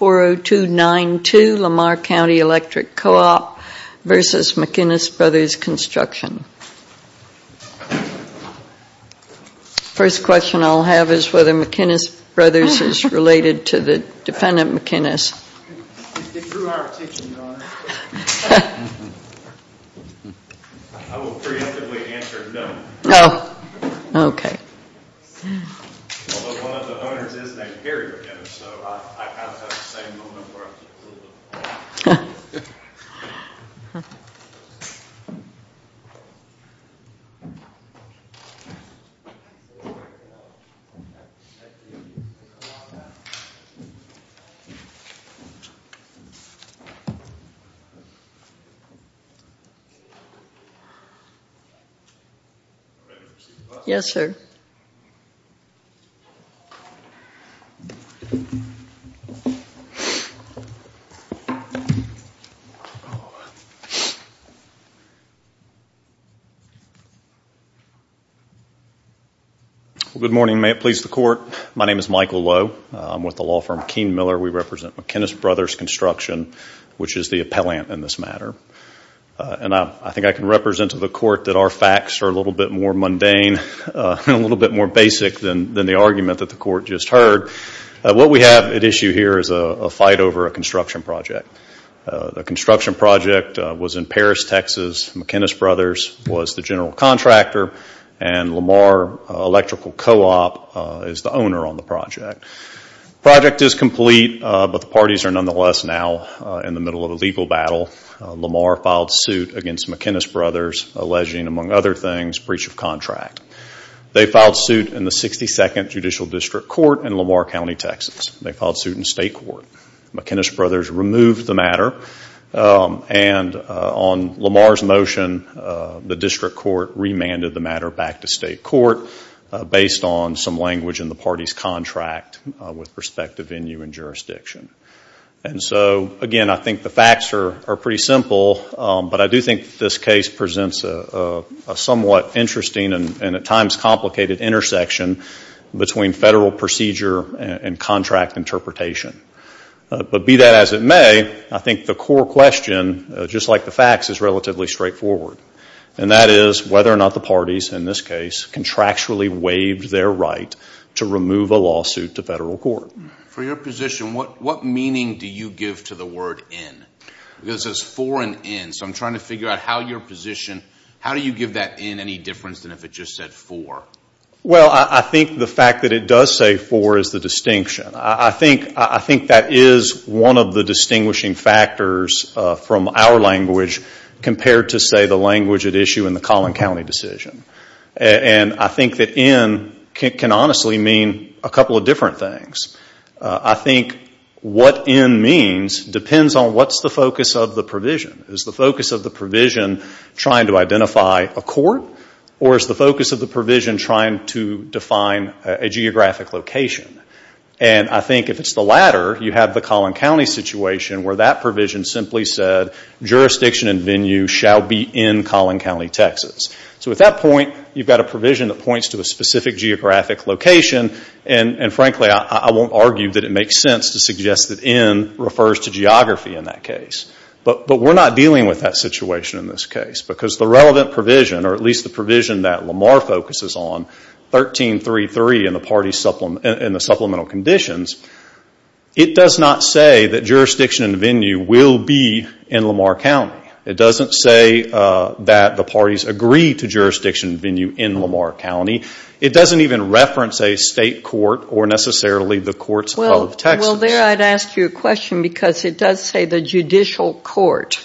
40292 Lamar Cty Electric Co-op v. McInnis Brothers Construction First question I'll have is whether McInnis Brothers is related to the defendant McInnis. It drew our attention, Your Honor. I will preemptively answer no. Oh, okay. Although one of the owners is named Gary McInnis, so I have the same moment where I'm just a little bit... Yes, sir. Yes, sir. Good morning. May it please the Court. My name is Michael Lowe. I'm with the law firm Keen-Miller. We represent McInnis Brothers Construction, which is the appellant in this matter. And I think I can represent to the Court that our facts are a little bit more mundane, a little bit more basic than the argument that the Court just heard. What we have at issue here is a fight over a construction project. The construction project was in Paris, Texas. McInnis Brothers was the general contractor and Lamar Electrical Co-op is the owner on the project. The project is complete, but the parties are nonetheless now in the middle of a legal battle. Lamar filed suit against McInnis Brothers alleging, among other things, breach of contract. They filed suit in the 62nd Judicial District Court in Lamar County, Texas. They filed suit in state court. McInnis Brothers removed the matter. And on Lamar's motion, the district court remanded the matter back to state court based on some language in the party's contract with respect to venue and jurisdiction. And so, again, I think the facts are pretty simple, but I do think this case presents a somewhat interesting and at times complicated intersection between federal procedure and contract interpretation. But be that as it may, I think the core question, just like the facts, is relatively straightforward. And that is whether or not the parties in this case contractually waived their right to remove a lawsuit to federal court. For your position, what meaning do you give to the word in? Because it says for and in, so I'm trying to figure out how your position, how do you give that in any difference than if it just said for? Well, I think the fact that it does say for is the distinction. I think that is one of the distinguishing factors from our language compared to, say, the language at issue in the Collin County decision. And I think that in can honestly mean a couple of different things. I think what in means depends on what's the focus of the provision. Is the focus of the provision trying to identify a court or is the focus of the provision trying to define a geographic location? And I think if it's the latter, you have the Collin County situation where that provision simply said jurisdiction and venue shall be in Collin County, Texas. So at that point, you've got a provision that points to a specific geographic location. And frankly, I won't argue that it makes sense to suggest that in refers to geography in that case. But we're not dealing with that situation in this case because the relevant provision, or at least the provision that Lamar focuses on, 1333 in the supplemental conditions, it does not say that jurisdiction and venue will be in Lamar County. It doesn't say that the parties agree to jurisdiction and venue in Lamar County. It doesn't even reference a state court or necessarily the courts of Texas. Well, there I'd ask you a question because it does say the judicial court.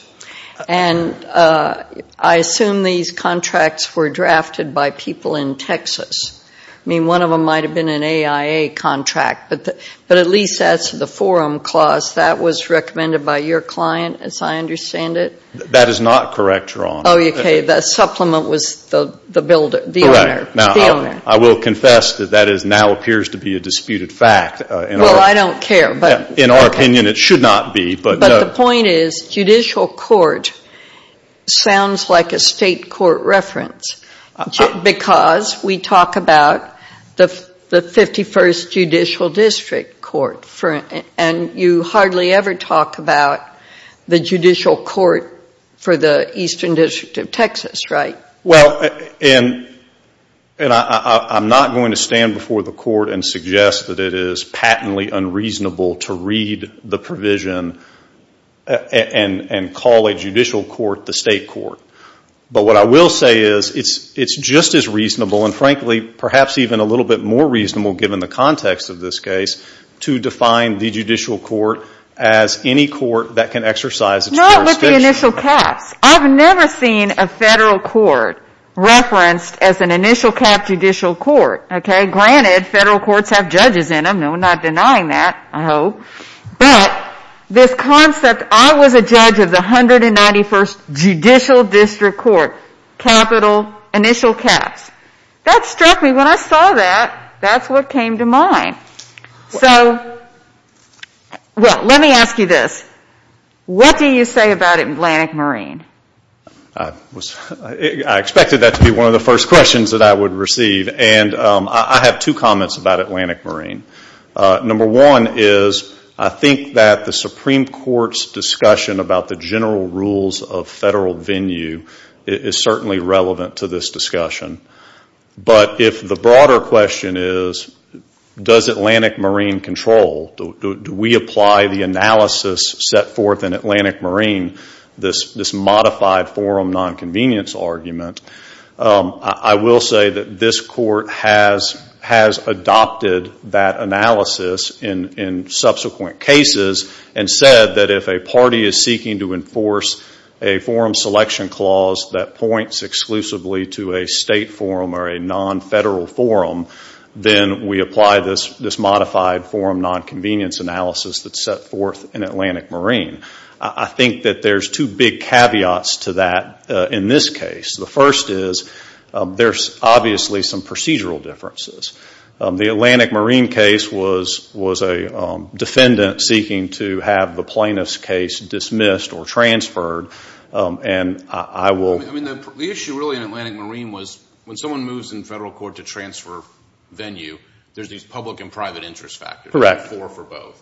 And I assume these contracts were drafted by people in Texas. I mean, one of them might have been an AIA contract, but at least that's the forum clause. That was recommended by your client, as I understand it. That is not correct, Your Honor. Oh, okay. The supplement was the owner. I will confess that that now appears to be a disputed fact. Well, I don't care. In our opinion, it should not be. But the point is judicial court sounds like a state court reference because we talk about the 51st Judicial District Court. And you hardly ever talk about the judicial court for the Eastern District of Texas, right? Well, and I'm not going to stand before the court and suggest that it is patently unreasonable to read the provision and call a judicial court the state court. But what I will say is it's just as reasonable, and frankly perhaps even a little bit more reasonable given the context of this case, to define the judicial court as any court that can exercise its jurisdiction. Not with the initial caps. I've never seen a federal court referenced as an initial cap judicial court, okay? Granted, federal courts have judges in them. I'm not denying that, I hope. But this concept, I was a judge of the 191st Judicial District Court, capital initial caps. That struck me. When I saw that, that's what came to mind. So, well, let me ask you this. What do you say about Atlantic Marine? I expected that to be one of the first questions that I would receive. And I have two comments about Atlantic Marine. Number one is I think that the Supreme Court's discussion about the general rules of federal venue is certainly relevant to this discussion. But if the broader question is does Atlantic Marine control, do we apply the analysis set forth in Atlantic Marine, this modified forum nonconvenience argument, I will say that this court has adopted that analysis in subsequent cases and said that if a party is seeking to enforce a forum selection clause that points exclusively to a state forum or a nonfederal forum, then we apply this modified forum nonconvenience analysis that's set forth in Atlantic Marine. I think that there's two big caveats to that in this case. The first is there's obviously some procedural differences. The Atlantic Marine case was a defendant seeking to have the plaintiff's case dismissed or transferred, and I will... I mean, the issue really in Atlantic Marine was when someone moves in federal court to transfer venue, there's these public and private interest factors. Correct. Four for both.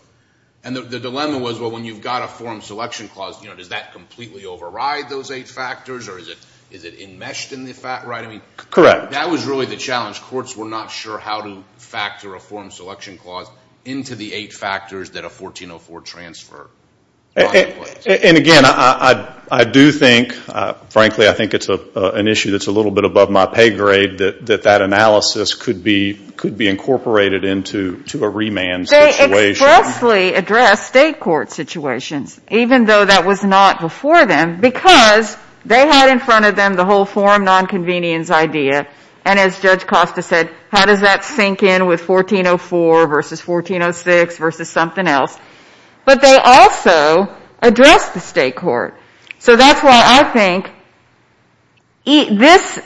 And the dilemma was, well, when you've got a forum selection clause, does that completely override those eight factors or is it enmeshed in the fact, right? Correct. That was really the challenge. Courts were not sure how to factor a forum selection clause into the eight factors that a 1404 transfer... And again, I do think, frankly, I think it's an issue that's a little bit above my pay grade that that analysis could be incorporated into a remand situation. They expressly addressed state court situations, even though that was not before them, because they had in front of them the whole forum nonconvenience idea, and as Judge Costa said, how does that sink in with 1404 versus 1406 versus something else? But they also addressed the state court. So that's why I think this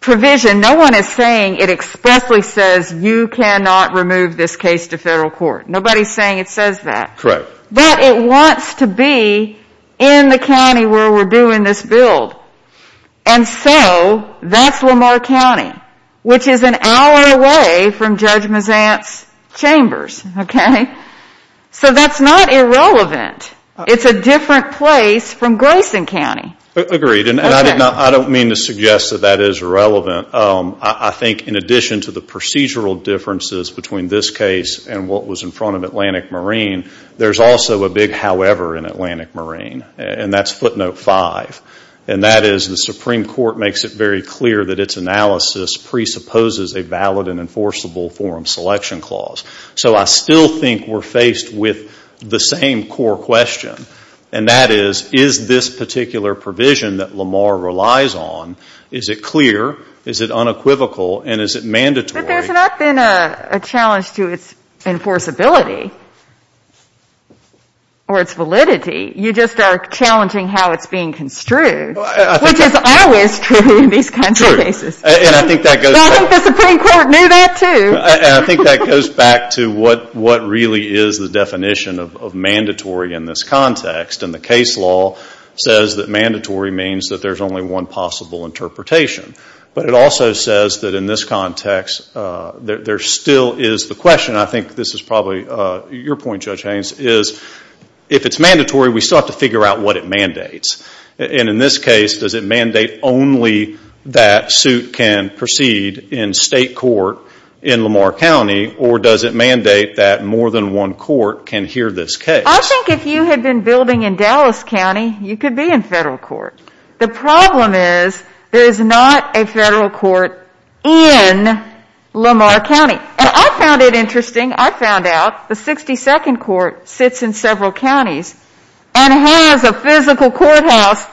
provision, no one is saying it expressly says you cannot remove this case to federal court. Nobody's saying it says that. Correct. But it wants to be in the county where we're doing this build, and so that's Lamar County, which is an hour away from Judge Mazant's chambers, okay? So that's not irrelevant. It's a different place from Grayson County. Agreed, and I don't mean to suggest that that is irrelevant. I think in addition to the procedural differences between this case and what was in front of Atlantic Marine, there's also a big however in Atlantic Marine, and that's footnote five, and that is the Supreme Court makes it very clear that its analysis presupposes a valid and enforceable forum selection clause. So I still think we're faced with the same core question, and that is, is this particular provision that Lamar relies on, is it clear, is it unequivocal, and is it mandatory? But there's not been a challenge to its enforceability or its validity. You just are challenging how it's being construed, which is always true in these kinds of cases. True, and I think that goes back to what really is the definition of mandatory in this context, and the case law says that mandatory means that there's only one possible interpretation, but it also says that in this context, there still is the question. I think this is probably your point, Judge Haynes, is if it's mandatory, we still have to figure out what it mandates, and in this case, does it mandate only that suit can proceed in state court in Lamar County, or does it mandate that more than one court can hear this case? I think if you had been building in Dallas County, you could be in federal court. The problem is there's not a federal court in Lamar County, and I found it interesting. I found out the 62nd Court sits in several counties and has a physical courthouse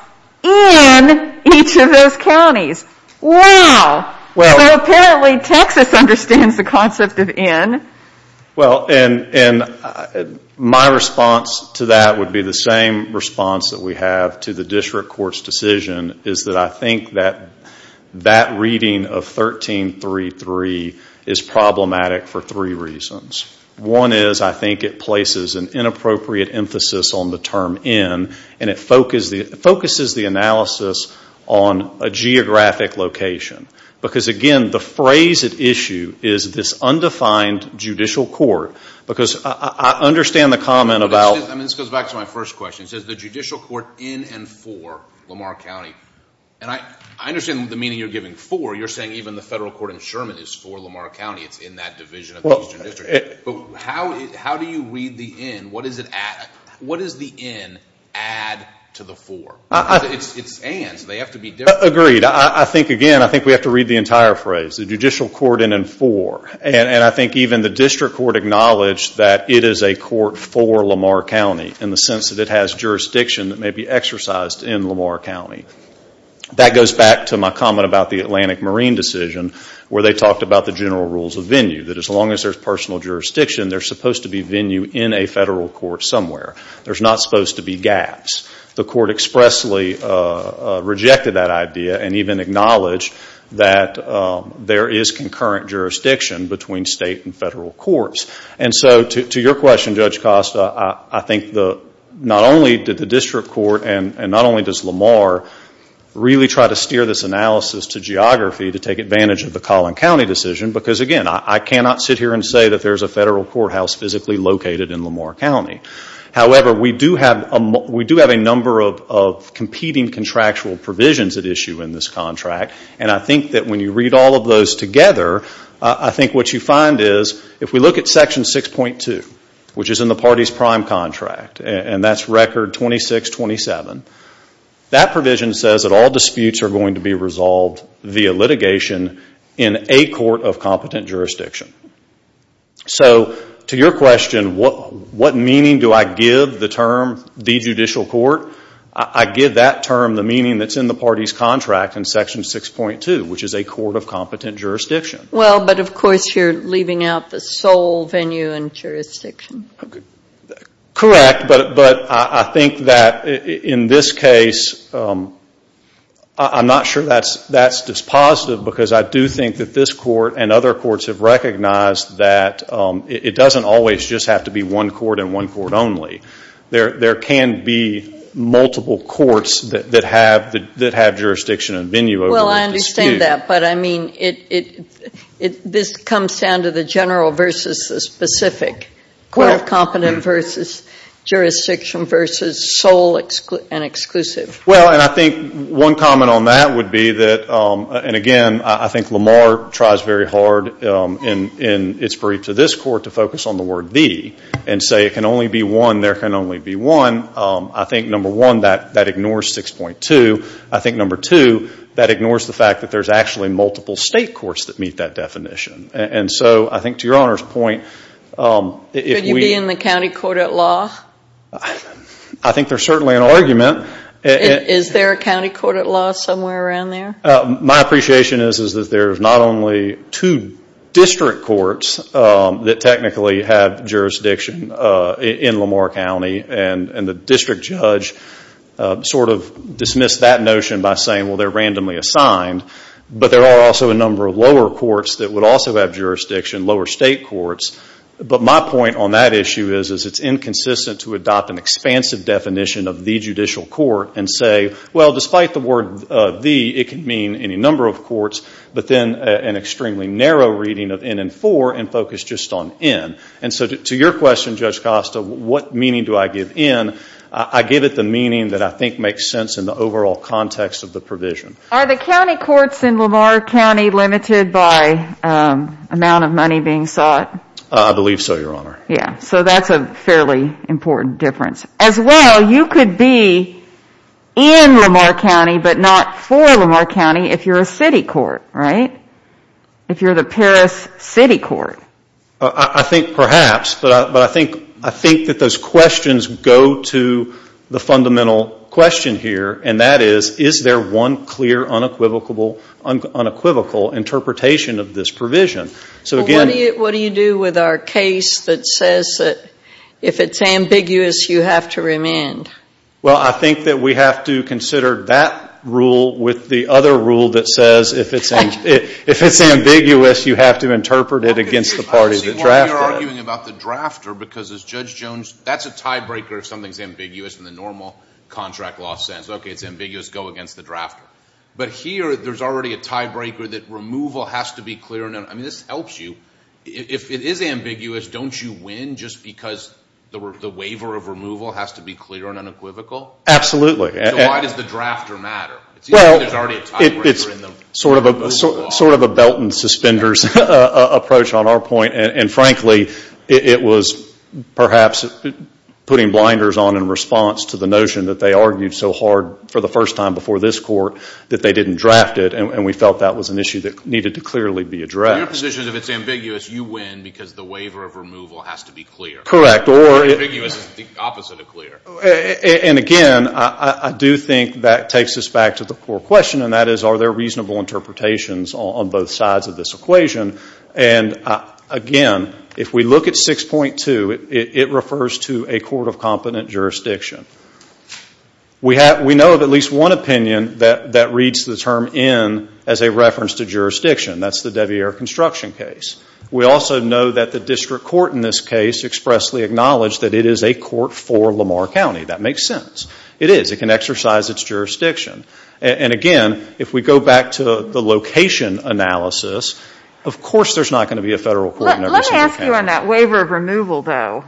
in each of those counties. Wow, so apparently Texas understands the concept of in. Well, and my response to that would be the same response that we have to the district court's decision, is that I think that that reading of 1333 is problematic for three reasons. One is I think it places an inappropriate emphasis on the term in, and it focuses the analysis on a geographic location, because, again, the phrase at issue is this undefined judicial court, because I understand the comment about— But this goes back to my first question. It says the judicial court in and for Lamar County, and I understand the meaning you're giving. For, you're saying even the federal court in Sherman is for Lamar County. It's in that division of the Eastern District. But how do you read the in? What does the in add to the for? It's and, so they have to be different. Agreed. I think, again, I think we have to read the entire phrase. The judicial court in and for, and I think even the district court acknowledged that it is a court for Lamar County in the sense that it has jurisdiction that may be exercised in Lamar County. That goes back to my comment about the Atlantic Marine decision where they talked about the general rules of venue, that as long as there's personal jurisdiction, there's supposed to be venue in a federal court somewhere. There's not supposed to be gaps. The court expressly rejected that idea and even acknowledged that there is concurrent jurisdiction between state and federal courts. And so to your question, Judge Costa, I think not only did the district court and not only does Lamar really try to steer this analysis to geography to take advantage of the Collin County decision, because, again, I cannot sit here and say that there's a federal courthouse physically located in Lamar County. However, we do have a number of competing contractual provisions at issue in this contract, and I think that when you read all of those together, I think what you find is if we look at Section 6.2, which is in the party's prime contract, and that's Record 2627, that provision says that all disputes are going to be resolved via litigation in a court of competent jurisdiction. So to your question, what meaning do I give the term the judicial court? I give that term the meaning that's in the party's contract in Section 6.2, which is a court of competent jurisdiction. Well, but of course you're leaving out the sole venue in jurisdiction. Correct, but I think that in this case, I'm not sure that's dispositive because I do think that this court and other courts have recognized that it doesn't always just have to be one court and one court only. There can be multiple courts that have jurisdiction and venue over the dispute. Well, I understand that, but I mean this comes down to the general versus the specific, court of competent versus jurisdiction versus sole and exclusive. Well, and I think one comment on that would be that, and again I think Lamar tries very hard in its brief to this court to focus on the word the, and say it can only be one, there can only be one. I think, number one, that ignores 6.2. I think, number two, that ignores the fact that there's actually multiple state courts that meet that definition. And so I think to your Honor's point, I think there's certainly an argument. Is there a county court at law somewhere around there? My appreciation is that there's not only two district courts that technically have jurisdiction in Lamar County, and the district judge sort of dismissed that notion by saying, well, they're randomly assigned, but there are also a number of lower courts that would also have jurisdiction, lower state courts. But my point on that issue is it's inconsistent to adopt an expansive definition of the judicial court and say, well, despite the word the, it could mean any number of courts, but then an extremely narrow reading of in and for, and focus just on in. And so to your question, Judge Costa, what meaning do I give in? I give it the meaning that I think makes sense in the overall context of the provision. Are the county courts in Lamar County limited by amount of money being sought? I believe so, Your Honor. Yeah. So that's a fairly important difference. As well, you could be in Lamar County, but not for Lamar County if you're a city court, right? If you're the Paris city court. I think perhaps, but I think that those questions go to the fundamental question here, and that is, is there one clear unequivocal interpretation of this provision? What do you do with our case that says that if it's ambiguous, you have to remand? Well, I think that we have to consider that rule with the other rule that says if it's ambiguous, you have to interpret it against the parties that draft it. You're arguing about the drafter, because as Judge Jones, that's a tiebreaker if something's ambiguous in the normal contract law sense. Okay, it's ambiguous, go against the drafter. But here there's already a tiebreaker that removal has to be clear. I mean, this helps you. If it is ambiguous, don't you win just because the waiver of removal has to be clear and unequivocal? Absolutely. So why does the drafter matter? Well, it's sort of a belt and suspenders approach on our point. And frankly, it was perhaps putting blinders on in response to the notion that they argued so hard for the first time before this court that they didn't draft it. And we felt that was an issue that needed to clearly be addressed. So your position is if it's ambiguous, you win because the waiver of removal has to be clear. Correct. Or ambiguous is the opposite of clear. And again, I do think that takes us back to the core question, and that is are there reasonable interpretations on both sides of this equation? And again, if we look at 6.2, it refers to a court of competent jurisdiction. We know of at least one opinion that reads the term in as a reference to jurisdiction. That's the Devier construction case. We also know that the district court in this case expressly acknowledged that it is a court for Lamar County. That makes sense. It is. It can exercise its jurisdiction. And again, if we go back to the location analysis, of course there's not going to be a federal court in every single county. Let me ask you on that waiver of removal, though.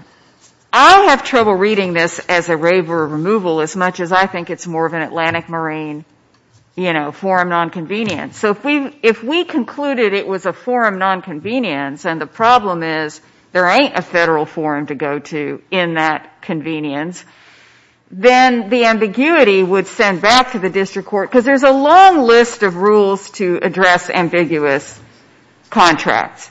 I have trouble reading this as a waiver of removal as much as I think it's more of an Atlantic Marine, you know, forum nonconvenience. So if we concluded it was a forum nonconvenience and the problem is there ain't a federal forum to go to in that convenience, then the ambiguity would send back to the district court because there's a long list of rules to address ambiguous contracts.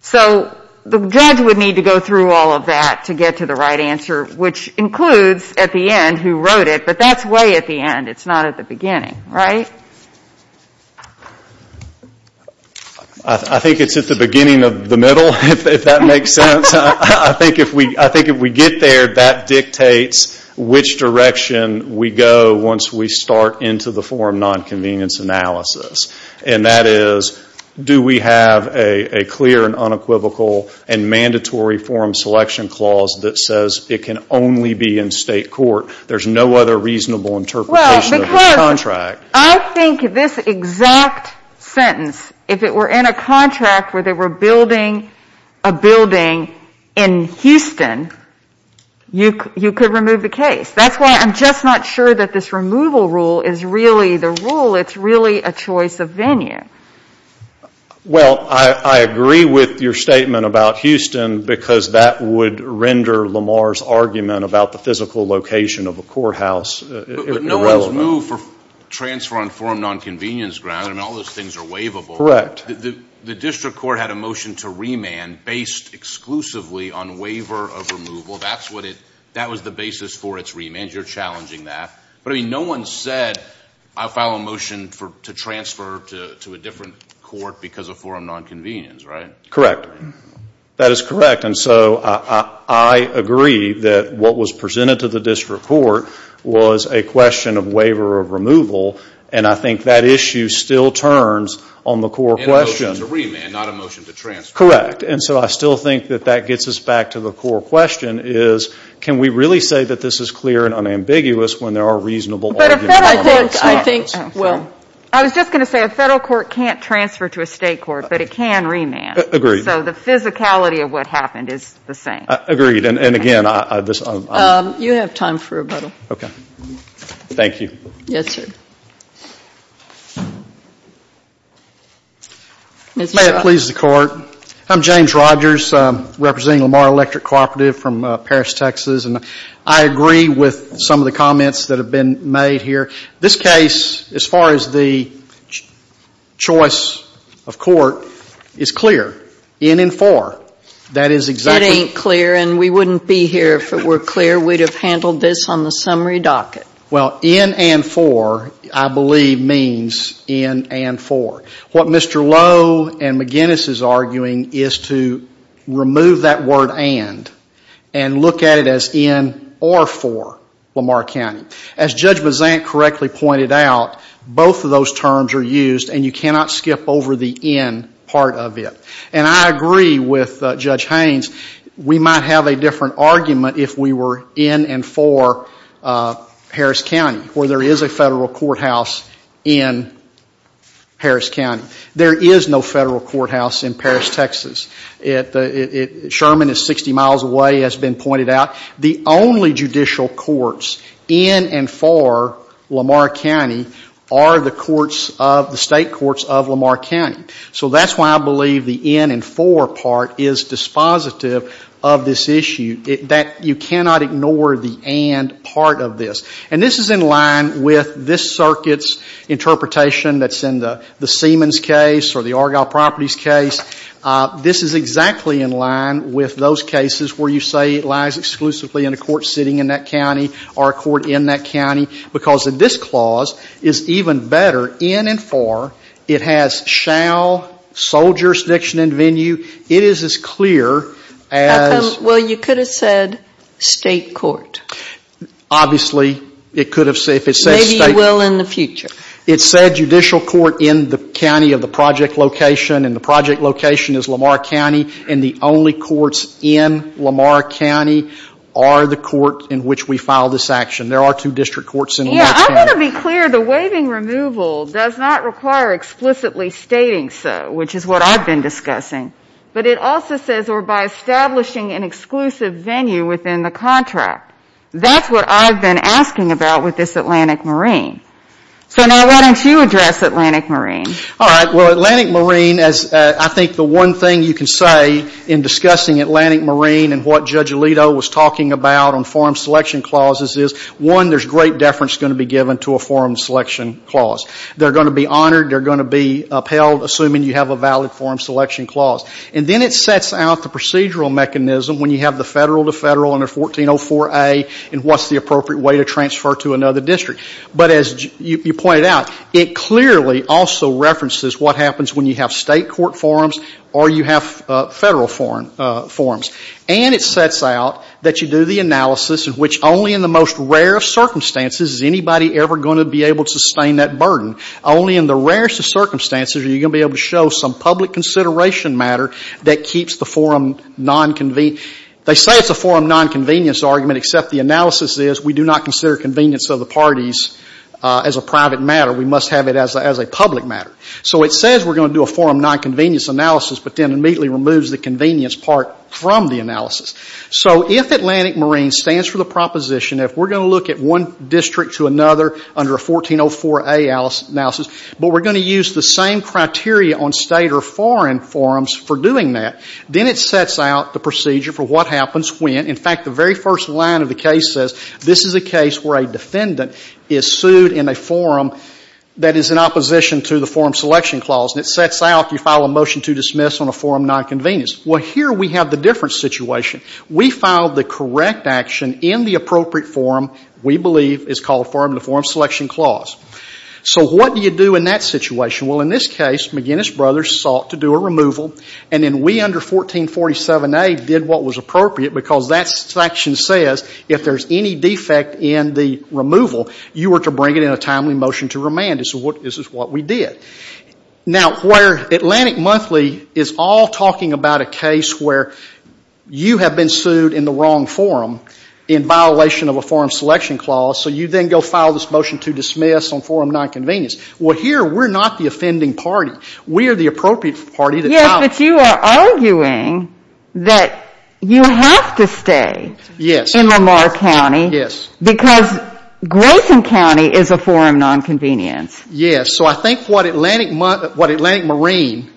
So the judge would need to go through all of that to get to the right answer, which includes at the end who wrote it. But that's way at the end. It's not at the beginning, right? I think it's at the beginning of the middle, if that makes sense. I think if we get there, that dictates which direction we go once we start into the forum nonconvenience analysis. And that is, do we have a clear and unequivocal and mandatory forum selection clause that says it can only be in state court? There's no other reasonable interpretation of the contract. Well, because I think this exact sentence, if it were in a contract where they were building a building in Houston, you could remove the case. That's why I'm just not sure that this removal rule is really the rule. It's really a choice of venue. Well, I agree with your statement about Houston because that would render Lamar's argument about the physical location of a courthouse irrelevant. But no one's moved for transfer on forum nonconvenience grounds. I mean, all those things are waivable. Correct. The district court had a motion to remand based exclusively on waiver of removal. That was the basis for its remand. You're challenging that. But, I mean, no one said, I'll file a motion to transfer to a different court because of forum nonconvenience, right? Correct. That is correct. And so I agree that what was presented to the district court was a question of waiver of removal. And I think that issue still turns on the core question. And a motion to remand, not a motion to transfer. Correct. And so I still think that that gets us back to the core question is, can we really say that this is clear and unambiguous when there are reasonable arguments in the courts? I was just going to say, a federal court can't transfer to a state court, but it can remand. Agreed. So the physicality of what happened is the same. Agreed. And, again, I just — You have time for a button. Okay. Thank you. Yes, sir. May it please the court, I'm James Rogers, representing Lamar Electric Cooperative from Paris, Texas. And I agree with some of the comments that have been made here. This case, as far as the choice of court, is clear, in and for. That is exactly — It ain't clear, and we wouldn't be here if it were clear. We'd have handled this on the summary docket. Well, in and for, I believe, means in and for. What Mr. Lowe and McGinnis is arguing is to remove that word and and look at it as in or for Lamar County. As Judge Bazant correctly pointed out, both of those terms are used, and you cannot skip over the in part of it. And I agree with Judge Haynes. We might have a different argument if we were in and for Harris County, where there is a federal courthouse in Harris County. There is no federal courthouse in Paris, Texas. Sherman is 60 miles away, as has been pointed out. The only judicial courts in and for Lamar County are the courts of — the state courts of Lamar County. So that's why I believe the in and for part is dispositive of this issue, that you cannot ignore the and part of this. And this is in line with this circuit's interpretation that's in the Siemens case or the Argyle Properties case. This is exactly in line with those cases where you say it lies exclusively in a court sitting in that county or a court in that county, because this clause is even better in and for. It has shall, sole jurisdiction and venue. It is as clear as — Well, you could have said state court. Obviously, it could have said — Maybe you will in the future. It said judicial court in the county of the project location, and the project location is Lamar County, and the only courts in Lamar County are the court in which we file this action. There are two district courts in Lamar County. I want to be clear. The waiving removal does not require explicitly stating so, which is what I've been discussing. But it also says or by establishing an exclusive venue within the contract. That's what I've been asking about with this Atlantic Marine. So now why don't you address Atlantic Marine? All right. Well, Atlantic Marine, I think the one thing you can say in discussing Atlantic Marine and what Judge Alito was talking about on forum selection clauses is, one, there's great deference going to be given to a forum selection clause. They're going to be honored. They're going to be upheld assuming you have a valid forum selection clause. And then it sets out the procedural mechanism when you have the federal to federal under 1404A and what's the appropriate way to transfer to another district. But as you pointed out, it clearly also references what happens when you have state court forums or you have federal forums. And it sets out that you do the analysis in which only in the most rare of circumstances is anybody ever going to be able to sustain that burden. Only in the rarest of circumstances are you going to be able to show some public consideration matter that keeps the forum nonconvenient. They say it's a forum nonconvenience argument, except the analysis is we do not consider convenience of the parties as a private matter. We must have it as a public matter. So it says we're going to do a forum nonconvenience analysis, but then immediately removes the convenience part from the analysis. So if Atlantic Marine stands for the proposition, if we're going to look at one district to another under a 1404A analysis, but we're going to use the same criteria on state or foreign forums for doing that, then it sets out the procedure for what happens when, in fact, the very first line of the case says this is a case where a defendant is sued in a forum that is in opposition to the forum selection clause. And it sets out you file a motion to dismiss on a forum nonconvenience. Well, here we have the different situation. We filed the correct action in the appropriate forum we believe is called forum in the forum selection clause. So what do you do in that situation? Well, in this case McGinnis Brothers sought to do a removal, and then we under 1447A did what was appropriate because that section says if there's any defect in the removal, you are to bring it in a timely motion to remand. This is what we did. Now, where Atlantic Monthly is all talking about a case where you have been sued in the wrong forum in violation of a forum selection clause, so you then go file this motion to dismiss on forum nonconvenience. Well, here we're not the offending party. We are the appropriate party that filed it. Yes, but you are arguing that you have to stay in Lamar County. Yes. Because Grayson County is a forum nonconvenience. Yes. So I think what Atlantic Marine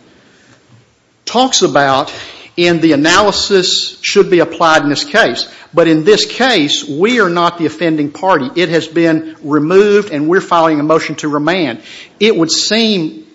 talks about in the analysis should be applied in this case. But in this case, we are not the offending party. It has been removed, and we're filing a motion to remand. It would seem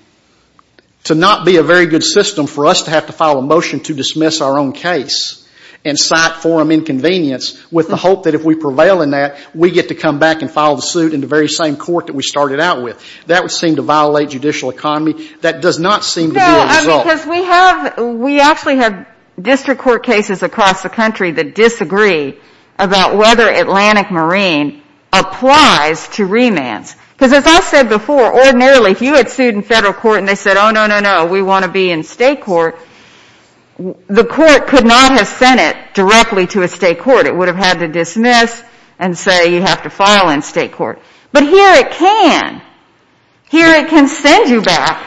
to not be a very good system for us to have to file a motion to dismiss our own case and cite forum inconvenience with the hope that if we prevail in that, we get to come back and file the suit in the very same court that we started out with. That would seem to violate judicial economy. That does not seem to be a result. No, because we have – we actually have district court cases across the country that disagree about whether Atlantic Marine applies to remands. Because as I said before, ordinarily, if you had sued in federal court and they said, oh, no, no, no, we want to be in state court, the court could not have sent it directly to a state court. It would have had to dismiss and say you have to file in state court. But here it can. Here it can send you back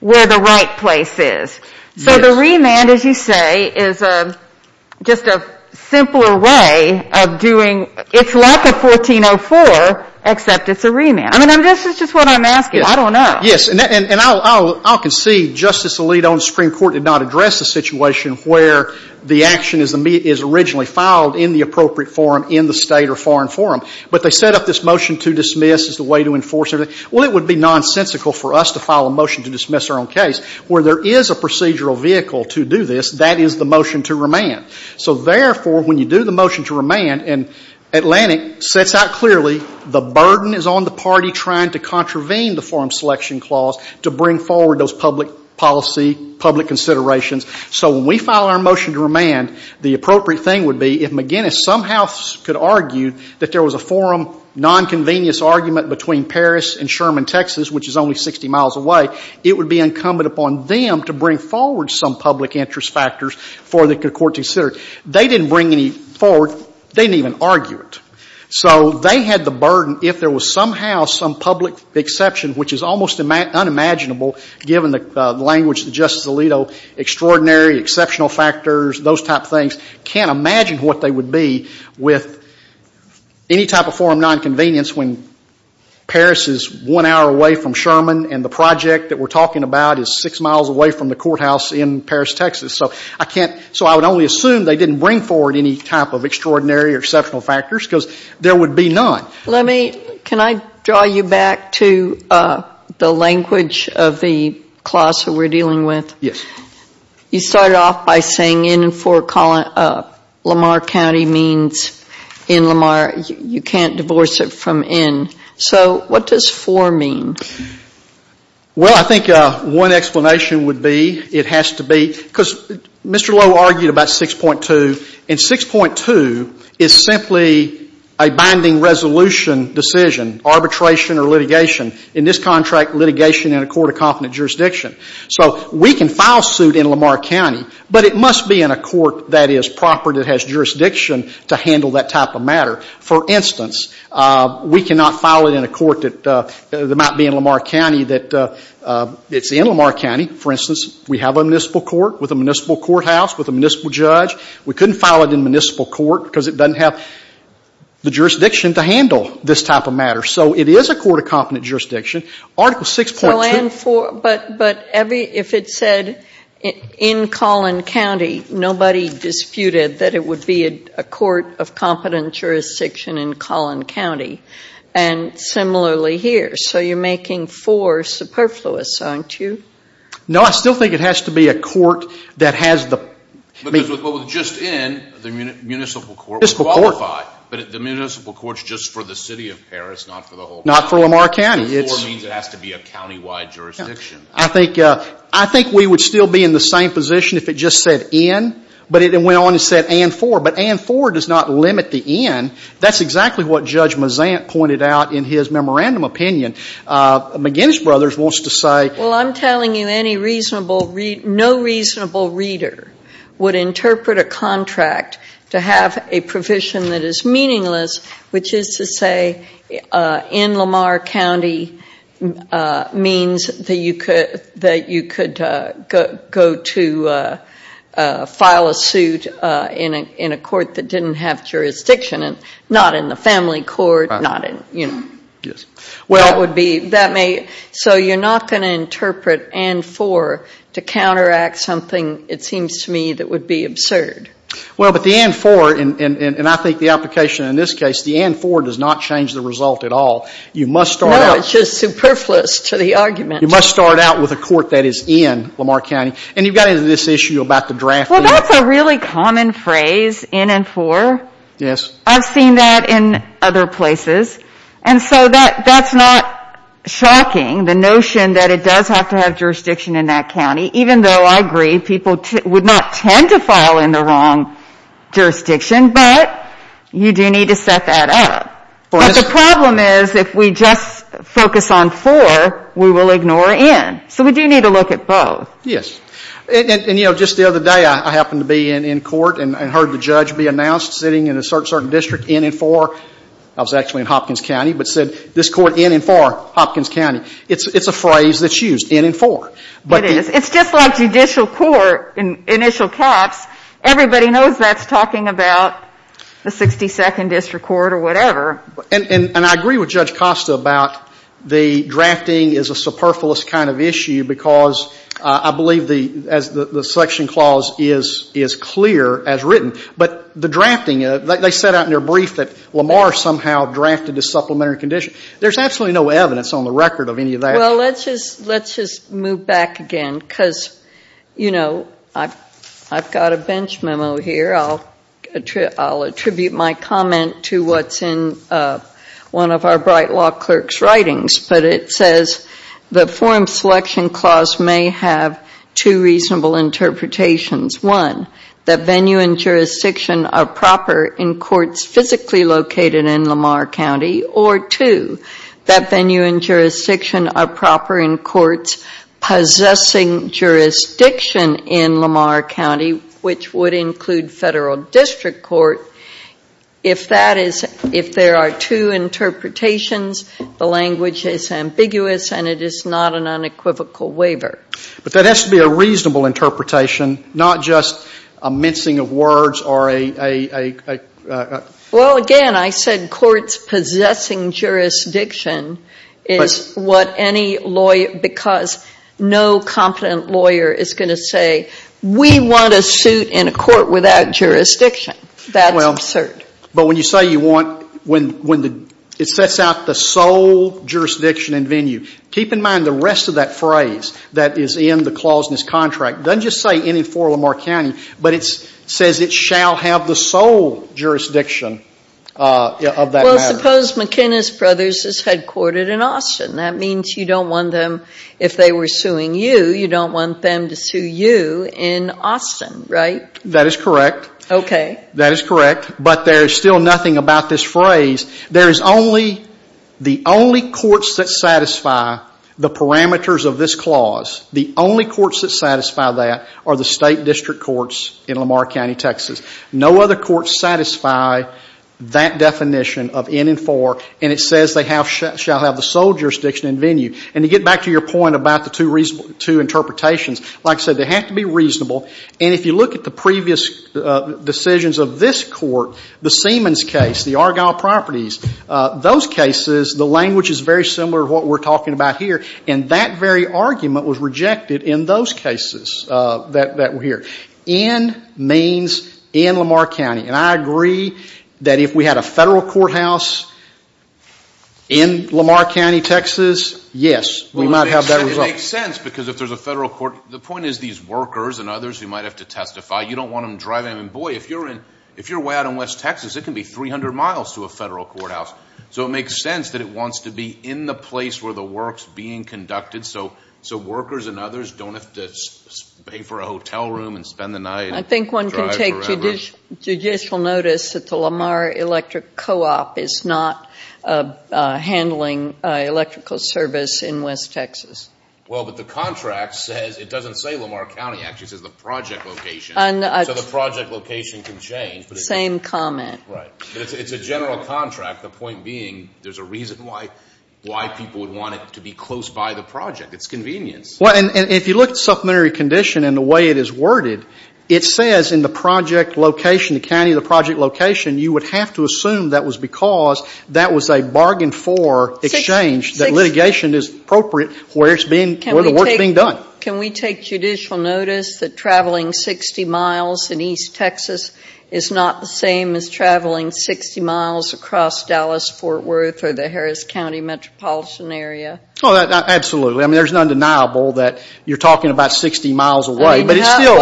where the right place is. So the remand, as you say, is just a simpler way of doing – it's like a 1404, except it's a remand. I mean, this is just what I'm asking. I don't know. Yes, and I'll concede Justice Alito in the Supreme Court did not address the situation where the action is originally filed in the appropriate forum in the state or foreign forum, but they set up this motion to dismiss as the way to enforce it. Well, it would be nonsensical for us to file a motion to dismiss our own case. Where there is a procedural vehicle to do this, that is the motion to remand. So, therefore, when you do the motion to remand and Atlantic sets out clearly the burden is on the party trying to contravene the forum selection clause to bring forward those public policy, public considerations. So when we file our motion to remand, the appropriate thing would be if McGinnis somehow could argue that there was a forum nonconvenience argument between Paris and Sherman, Texas, which is only 60 miles away, it would be incumbent upon them to bring forward some public interest factors for the court to consider. They didn't bring any forward. They didn't even argue it. So they had the burden if there was somehow some public exception, which is almost unimaginable given the language that Justice Alito, extraordinary, exceptional factors, those type of things, can't imagine what they would be with any type of forum nonconvenience when Paris is one hour away from Sherman and the project that we're talking about is six miles away from the courthouse in Paris, Texas. So I can't, so I would only assume they didn't bring forward any type of extraordinary or exceptional factors because there would be none. Let me, can I draw you back to the language of the clause that we're dealing with? Yes. You started off by saying in and for Lamar County means in Lamar. You can't divorce it from in. So what does for mean? Well, I think one explanation would be it has to be, because Mr. Lowe argued about 6.2, and 6.2 is simply a binding resolution decision, arbitration or litigation. In this contract, litigation in a court of confident jurisdiction. So we can file suit in Lamar County, but it must be in a court that is proper, that has jurisdiction to handle that type of matter. For instance, we cannot file it in a court that might be in Lamar County that it's in Lamar County. For instance, we have a municipal court with a municipal courthouse with a municipal judge. We couldn't file it in a municipal court because it doesn't have the jurisdiction to handle this type of matter. So it is a court of confident jurisdiction. Article 6.2. So and for, but every, if it said in Collin County, nobody disputed that it would be a court of confident jurisdiction in Collin County. And similarly here. So you're making for superfluous, aren't you? No, I still think it has to be a court that has the. Because with what was just in, the municipal court would qualify. Municipal court. But the municipal court's just for the city of Paris, not for the whole county. Not for Lamar County. And for means it has to be a countywide jurisdiction. I think we would still be in the same position if it just said in, but it went on and said and for. But and for does not limit the in. That's exactly what Judge Mazant pointed out in his memorandum opinion. McGinnis Brothers wants to say. Well, I'm telling you any reasonable, no reasonable reader would interpret a contract to have a provision that is meaningless, which is to say in Lamar County means that you could go to file a suit in a court that didn't have jurisdiction. And not in the family court, not in, you know. Yes. So you're not going to interpret and for to counteract something, it seems to me, that would be absurd. Well, but the and for, and I think the application in this case, the and for does not change the result at all. You must start out. No, it's just superfluous to the argument. You must start out with a court that is in Lamar County. And you've got into this issue about the draft. Well, that's a really common phrase, in and for. Yes. I've seen that in other places. And so that's not shocking, the notion that it does have to have jurisdiction in that county, even though I agree people would not tend to file in the wrong jurisdiction. But you do need to set that up. But the problem is if we just focus on for, we will ignore in. So we do need to look at both. Yes. And, you know, just the other day I happened to be in court and heard the judge be announced sitting in a certain district in and for. I was actually in Hopkins County, but said this court in and for Hopkins County. It's a phrase that's used, in and for. It is. It's just like judicial court, initial caps. Everybody knows that's talking about the 62nd District Court or whatever. And I agree with Judge Costa about the drafting is a superfluous kind of issue because I believe the section clause is clear as written. But the drafting, they said out in their brief that Lamar somehow drafted a supplementary condition. There's absolutely no evidence on the record of any of that. Well, let's just move back again because, you know, I've got a bench memo here. I'll attribute my comment to what's in one of our bright law clerk's writings. But it says the forum selection clause may have two reasonable interpretations. One, that venue and jurisdiction are proper in courts physically located in Lamar County. Or two, that venue and jurisdiction are proper in courts possessing jurisdiction in Lamar County, which would include federal district court. If that is, if there are two interpretations, the language is ambiguous and it is not an unequivocal waiver. But that has to be a reasonable interpretation, not just a mincing of words or a... Well, again, I said courts possessing jurisdiction is what any lawyer, because no competent lawyer is going to say, we want a suit in a court without jurisdiction. That's absurd. But when you say you want, when it sets out the sole jurisdiction and venue, keep in mind the rest of that phrase that is in the clause in this contract doesn't just say in and for Lamar County, but it says it shall have the sole jurisdiction of that matter. Well, suppose McInnis Brothers is headquartered in Austin. That means you don't want them, if they were suing you, you don't want them to sue you in Austin, right? That is correct. Okay. That is correct. But there is still nothing about this phrase. There is only, the only courts that satisfy the parameters of this clause, the only courts that satisfy that are the State District Courts in Lamar County, Texas. No other courts satisfy that definition of in and for, and it says they shall have the sole jurisdiction and venue. And to get back to your point about the two interpretations, like I said, they have to be reasonable. And if you look at the previous decisions of this court, the Siemens case, the Argyle Properties, those cases, the language is very similar to what we're talking about here. And that very argument was rejected in those cases that were here. In means in Lamar County. And I agree that if we had a federal courthouse in Lamar County, Texas, yes, we might have that result. Well, it makes sense because if there's a federal court, the point is these workers and others who might have to testify, you don't want them driving. I mean, boy, if you're way out in West Texas, it can be 300 miles to a federal courthouse. So it makes sense that it wants to be in the place where the work is being conducted so workers and others don't have to pay for a hotel room and spend the night driving around. I think one can take judicial notice that the Lamar Electric Co-op is not handling electrical service in West Texas. Well, but the contract says, it doesn't say Lamar County, actually, it says the project location. So the project location can change. Same comment. Right. But it's a general contract, the point being there's a reason why people would want it to be close by the project. It's convenience. Well, and if you look at the supplementary condition and the way it is worded, it says in the project location, the county of the project location, you would have to assume that was because that was a bargain for exchange, that litigation is appropriate where the work is being done. Can we take judicial notice that traveling 60 miles in East Texas is not the same as traveling 60 miles across Dallas, Fort Worth, or the Harris County metropolitan area? Oh, absolutely. I mean, there's none deniable that you're talking about 60 miles away, but it's still.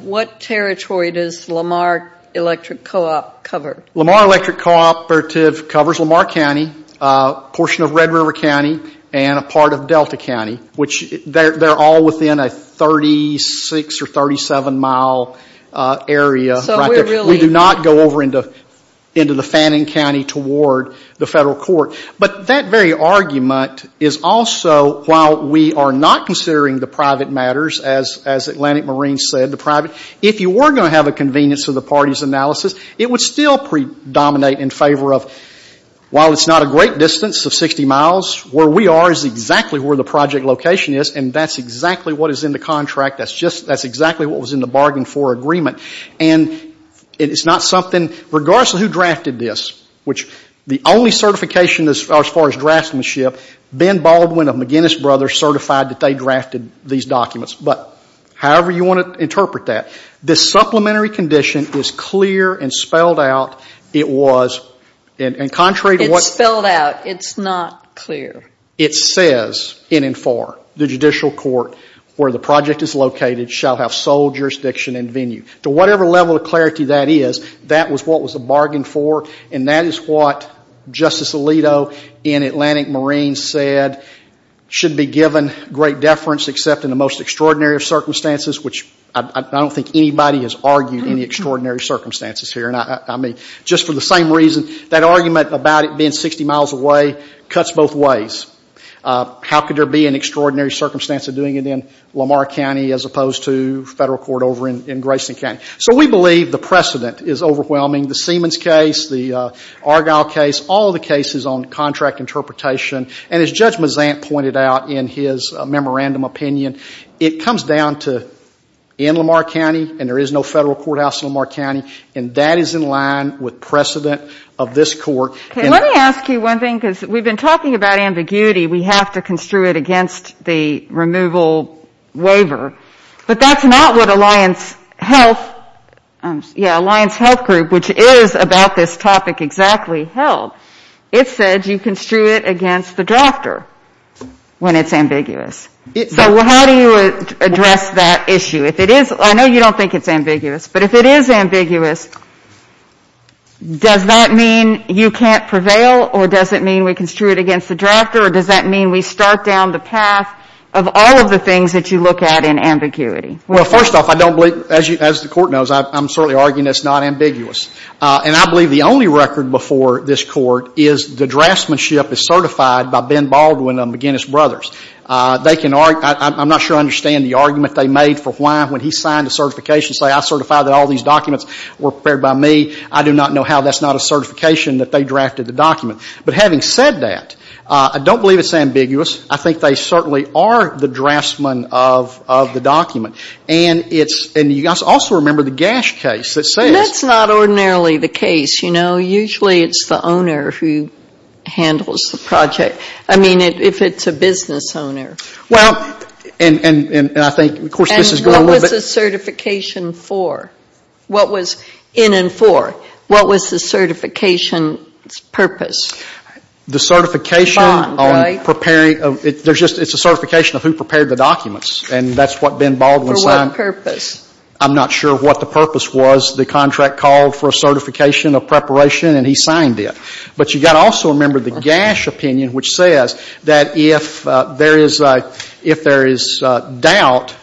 What territory does Lamar Electric Co-op cover? Lamar Electric Co-operative covers Lamar County, a portion of Red River County, and a part of Delta County, which they're all within a 36 or 37-mile area. So we're really. We do not go over into the Fannin County toward the federal court. But that very argument is also, while we are not considering the private matters, as Atlantic Marine said, the private, if you were going to have a convenience of the party's analysis, it would still predominate in favor of, while it's not a great distance of 60 miles, where we are is exactly where the project location is, and that's exactly what is in the contract. That's just. That's exactly what was in the bargain for agreement. And it's not something. Regardless of who drafted this, which the only certification as far as draftsmanship, Ben Baldwin of McGinnis Brothers certified that they drafted these documents. But however you want to interpret that, this supplementary condition is clear and spelled out. It was. And contrary to what. It's spelled out. It's not clear. It says in and for the judicial court where the project is located shall have sole jurisdiction and venue. To whatever level of clarity that is, that was what was the bargain for, and that is what Justice Alito in Atlantic Marine said should be given great deference except in the most extraordinary of circumstances, which I don't think anybody has argued any extraordinary circumstances here. Just for the same reason, that argument about it being 60 miles away cuts both ways. How could there be an extraordinary circumstance of doing it in Lamar County as opposed to federal court over in Grayson County? So we believe the precedent is overwhelming. The Siemens case, the Argyle case, all the cases on contract interpretation, and as Judge Mazant pointed out in his memorandum opinion, it comes down to in Lamar County, and there is no federal courthouse in Lamar County, and that is in line with precedent of this court. Okay. Let me ask you one thing, because we've been talking about ambiguity. We have to construe it against the removal waiver. But that's not what Alliance Health, yeah, Alliance Health Group, which is about this topic exactly, held. It said you construe it against the drafter when it's ambiguous. So how do you address that issue? If it is, I know you don't think it's ambiguous, but if it is ambiguous, does that mean you can't prevail or does it mean we construe it against the drafter or does that mean we start down the path of all of the things that you look at in ambiguity? Well, first off, I don't believe, as the Court knows, I'm certainly arguing it's not ambiguous. And I believe the only record before this Court is the draftsmanship is certified by Ben Baldwin of McGinnis Brothers. I'm not sure I understand the argument they made for why, when he signed the certification, say I certify that all these documents were prepared by me. I do not know how that's not a certification that they drafted the document. But having said that, I don't believe it's ambiguous. I think they certainly are the draftsmen of the document. And you also remember the Gash case that says — That's not ordinarily the case, you know. Usually it's the owner who handles the project. I mean, if it's a business owner. Well, and I think, of course, this has gone a little bit — And what was the certification for? What was in and for? What was the certification's purpose? The certification on preparing — Bond, right? It's a certification of who prepared the documents. And that's what Ben Baldwin signed. For what purpose? I'm not sure what the purpose was. The contract called for a certification of preparation and he signed it. But you've got to also remember the Gash opinion, which says that if there is doubt,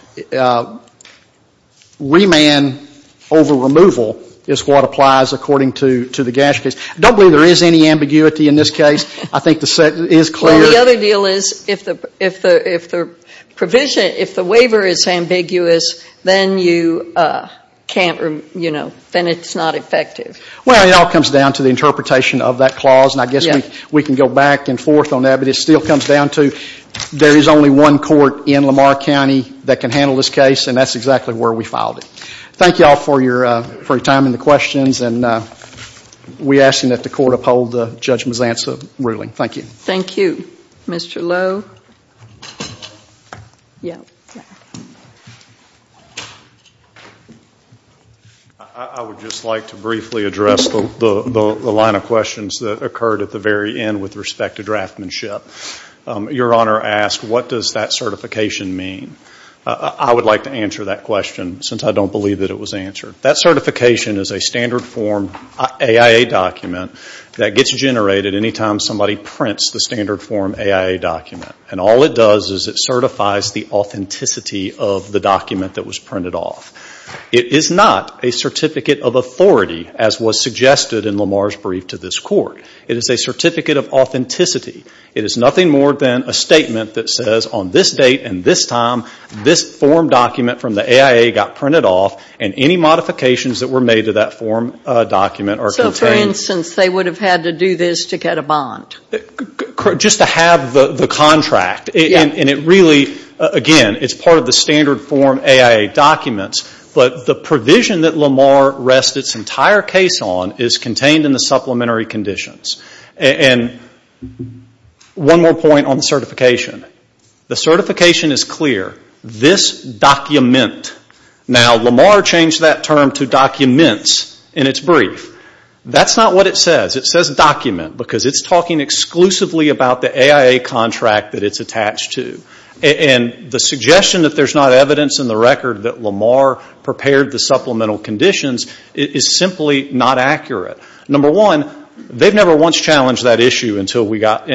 remand over removal is what applies according to the Gash case. I don't believe there is any ambiguity in this case. I think the sentence is clear. Well, the other deal is if the waiver is ambiguous, then it's not effective. Well, it all comes down to the interpretation of that clause. And I guess we can go back and forth on that. But it still comes down to there is only one court in Lamar County that can handle this case. And that's exactly where we filed it. Thank you all for your time and the questions. And we ask that the court uphold Judge Mazanza's ruling. Thank you. Thank you. Mr. Lowe? Yeah. I would just like to briefly address the line of questions that occurred at the very end with respect to draftsmanship. Your Honor asked what does that certification mean? I would like to answer that question since I don't believe that it was answered. That certification is a standard form AIA document that gets generated any time somebody prints the standard form AIA document. And all it does is it certifies the authenticity of the document that was printed off. It is not a certificate of authority as was suggested in Lamar's brief to this court. It is a certificate of authenticity. It is nothing more than a statement that says on this date and this time, this form document from the AIA got printed off, and any modifications that were made to that form document are contained. So, for instance, they would have had to do this to get a bond? Just to have the contract. And it really, again, is part of the standard form AIA documents. But the provision that Lamar rests its entire case on is contained in the supplementary conditions. And one more point on the certification. The certification is clear. This document, now Lamar changed that term to documents in its brief. That's not what it says. It says document because it's talking exclusively about the AIA contract that it's attached to. And the suggestion that there's not evidence in the record that Lamar prepared the supplemental conditions is simply not accurate. Number one, they've never once challenged that issue until we got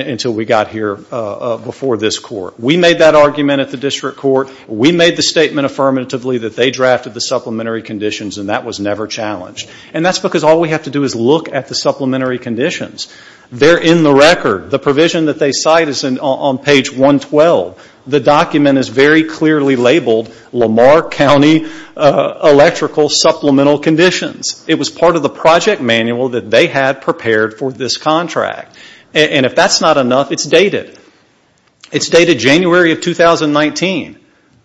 here before this court. We made that argument at the district court. We made the statement affirmatively that they drafted the supplementary conditions, and that was never challenged. And that's because all we have to do is look at the supplementary conditions. They're in the record. The provision that they cite is on page 112. The document is very clearly labeled Lamar County Electrical Supplemental Conditions. It was part of the project manual that they had prepared for this contract. And if that's not enough, it's dated. It's dated January of 2019.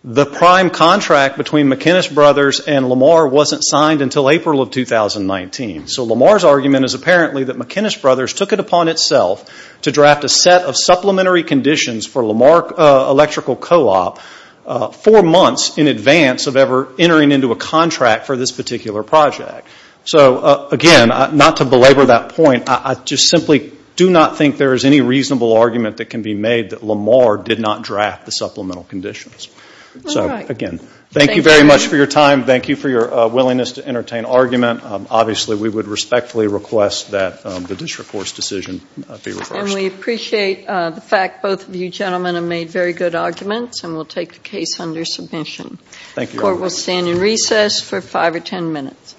The prime contract between McInnis Brothers and Lamar wasn't signed until April of 2019. So Lamar's argument is apparently that McInnis Brothers took it upon itself to draft a set of supplementary conditions for Lamar Electrical Co-op four months in advance of ever entering into a contract for this particular project. So, again, not to belabor that point, I just simply do not think there is any reasonable argument that can be made that Lamar did not draft the supplemental conditions. So, again, thank you very much for your time. Thank you for your willingness to entertain argument. Obviously, we would respectfully request that the district court's decision be reversed. And we appreciate the fact both of you gentlemen have made very good arguments and will take the case under submission. Thank you. The court will stand in recess for five or ten minutes. All rise.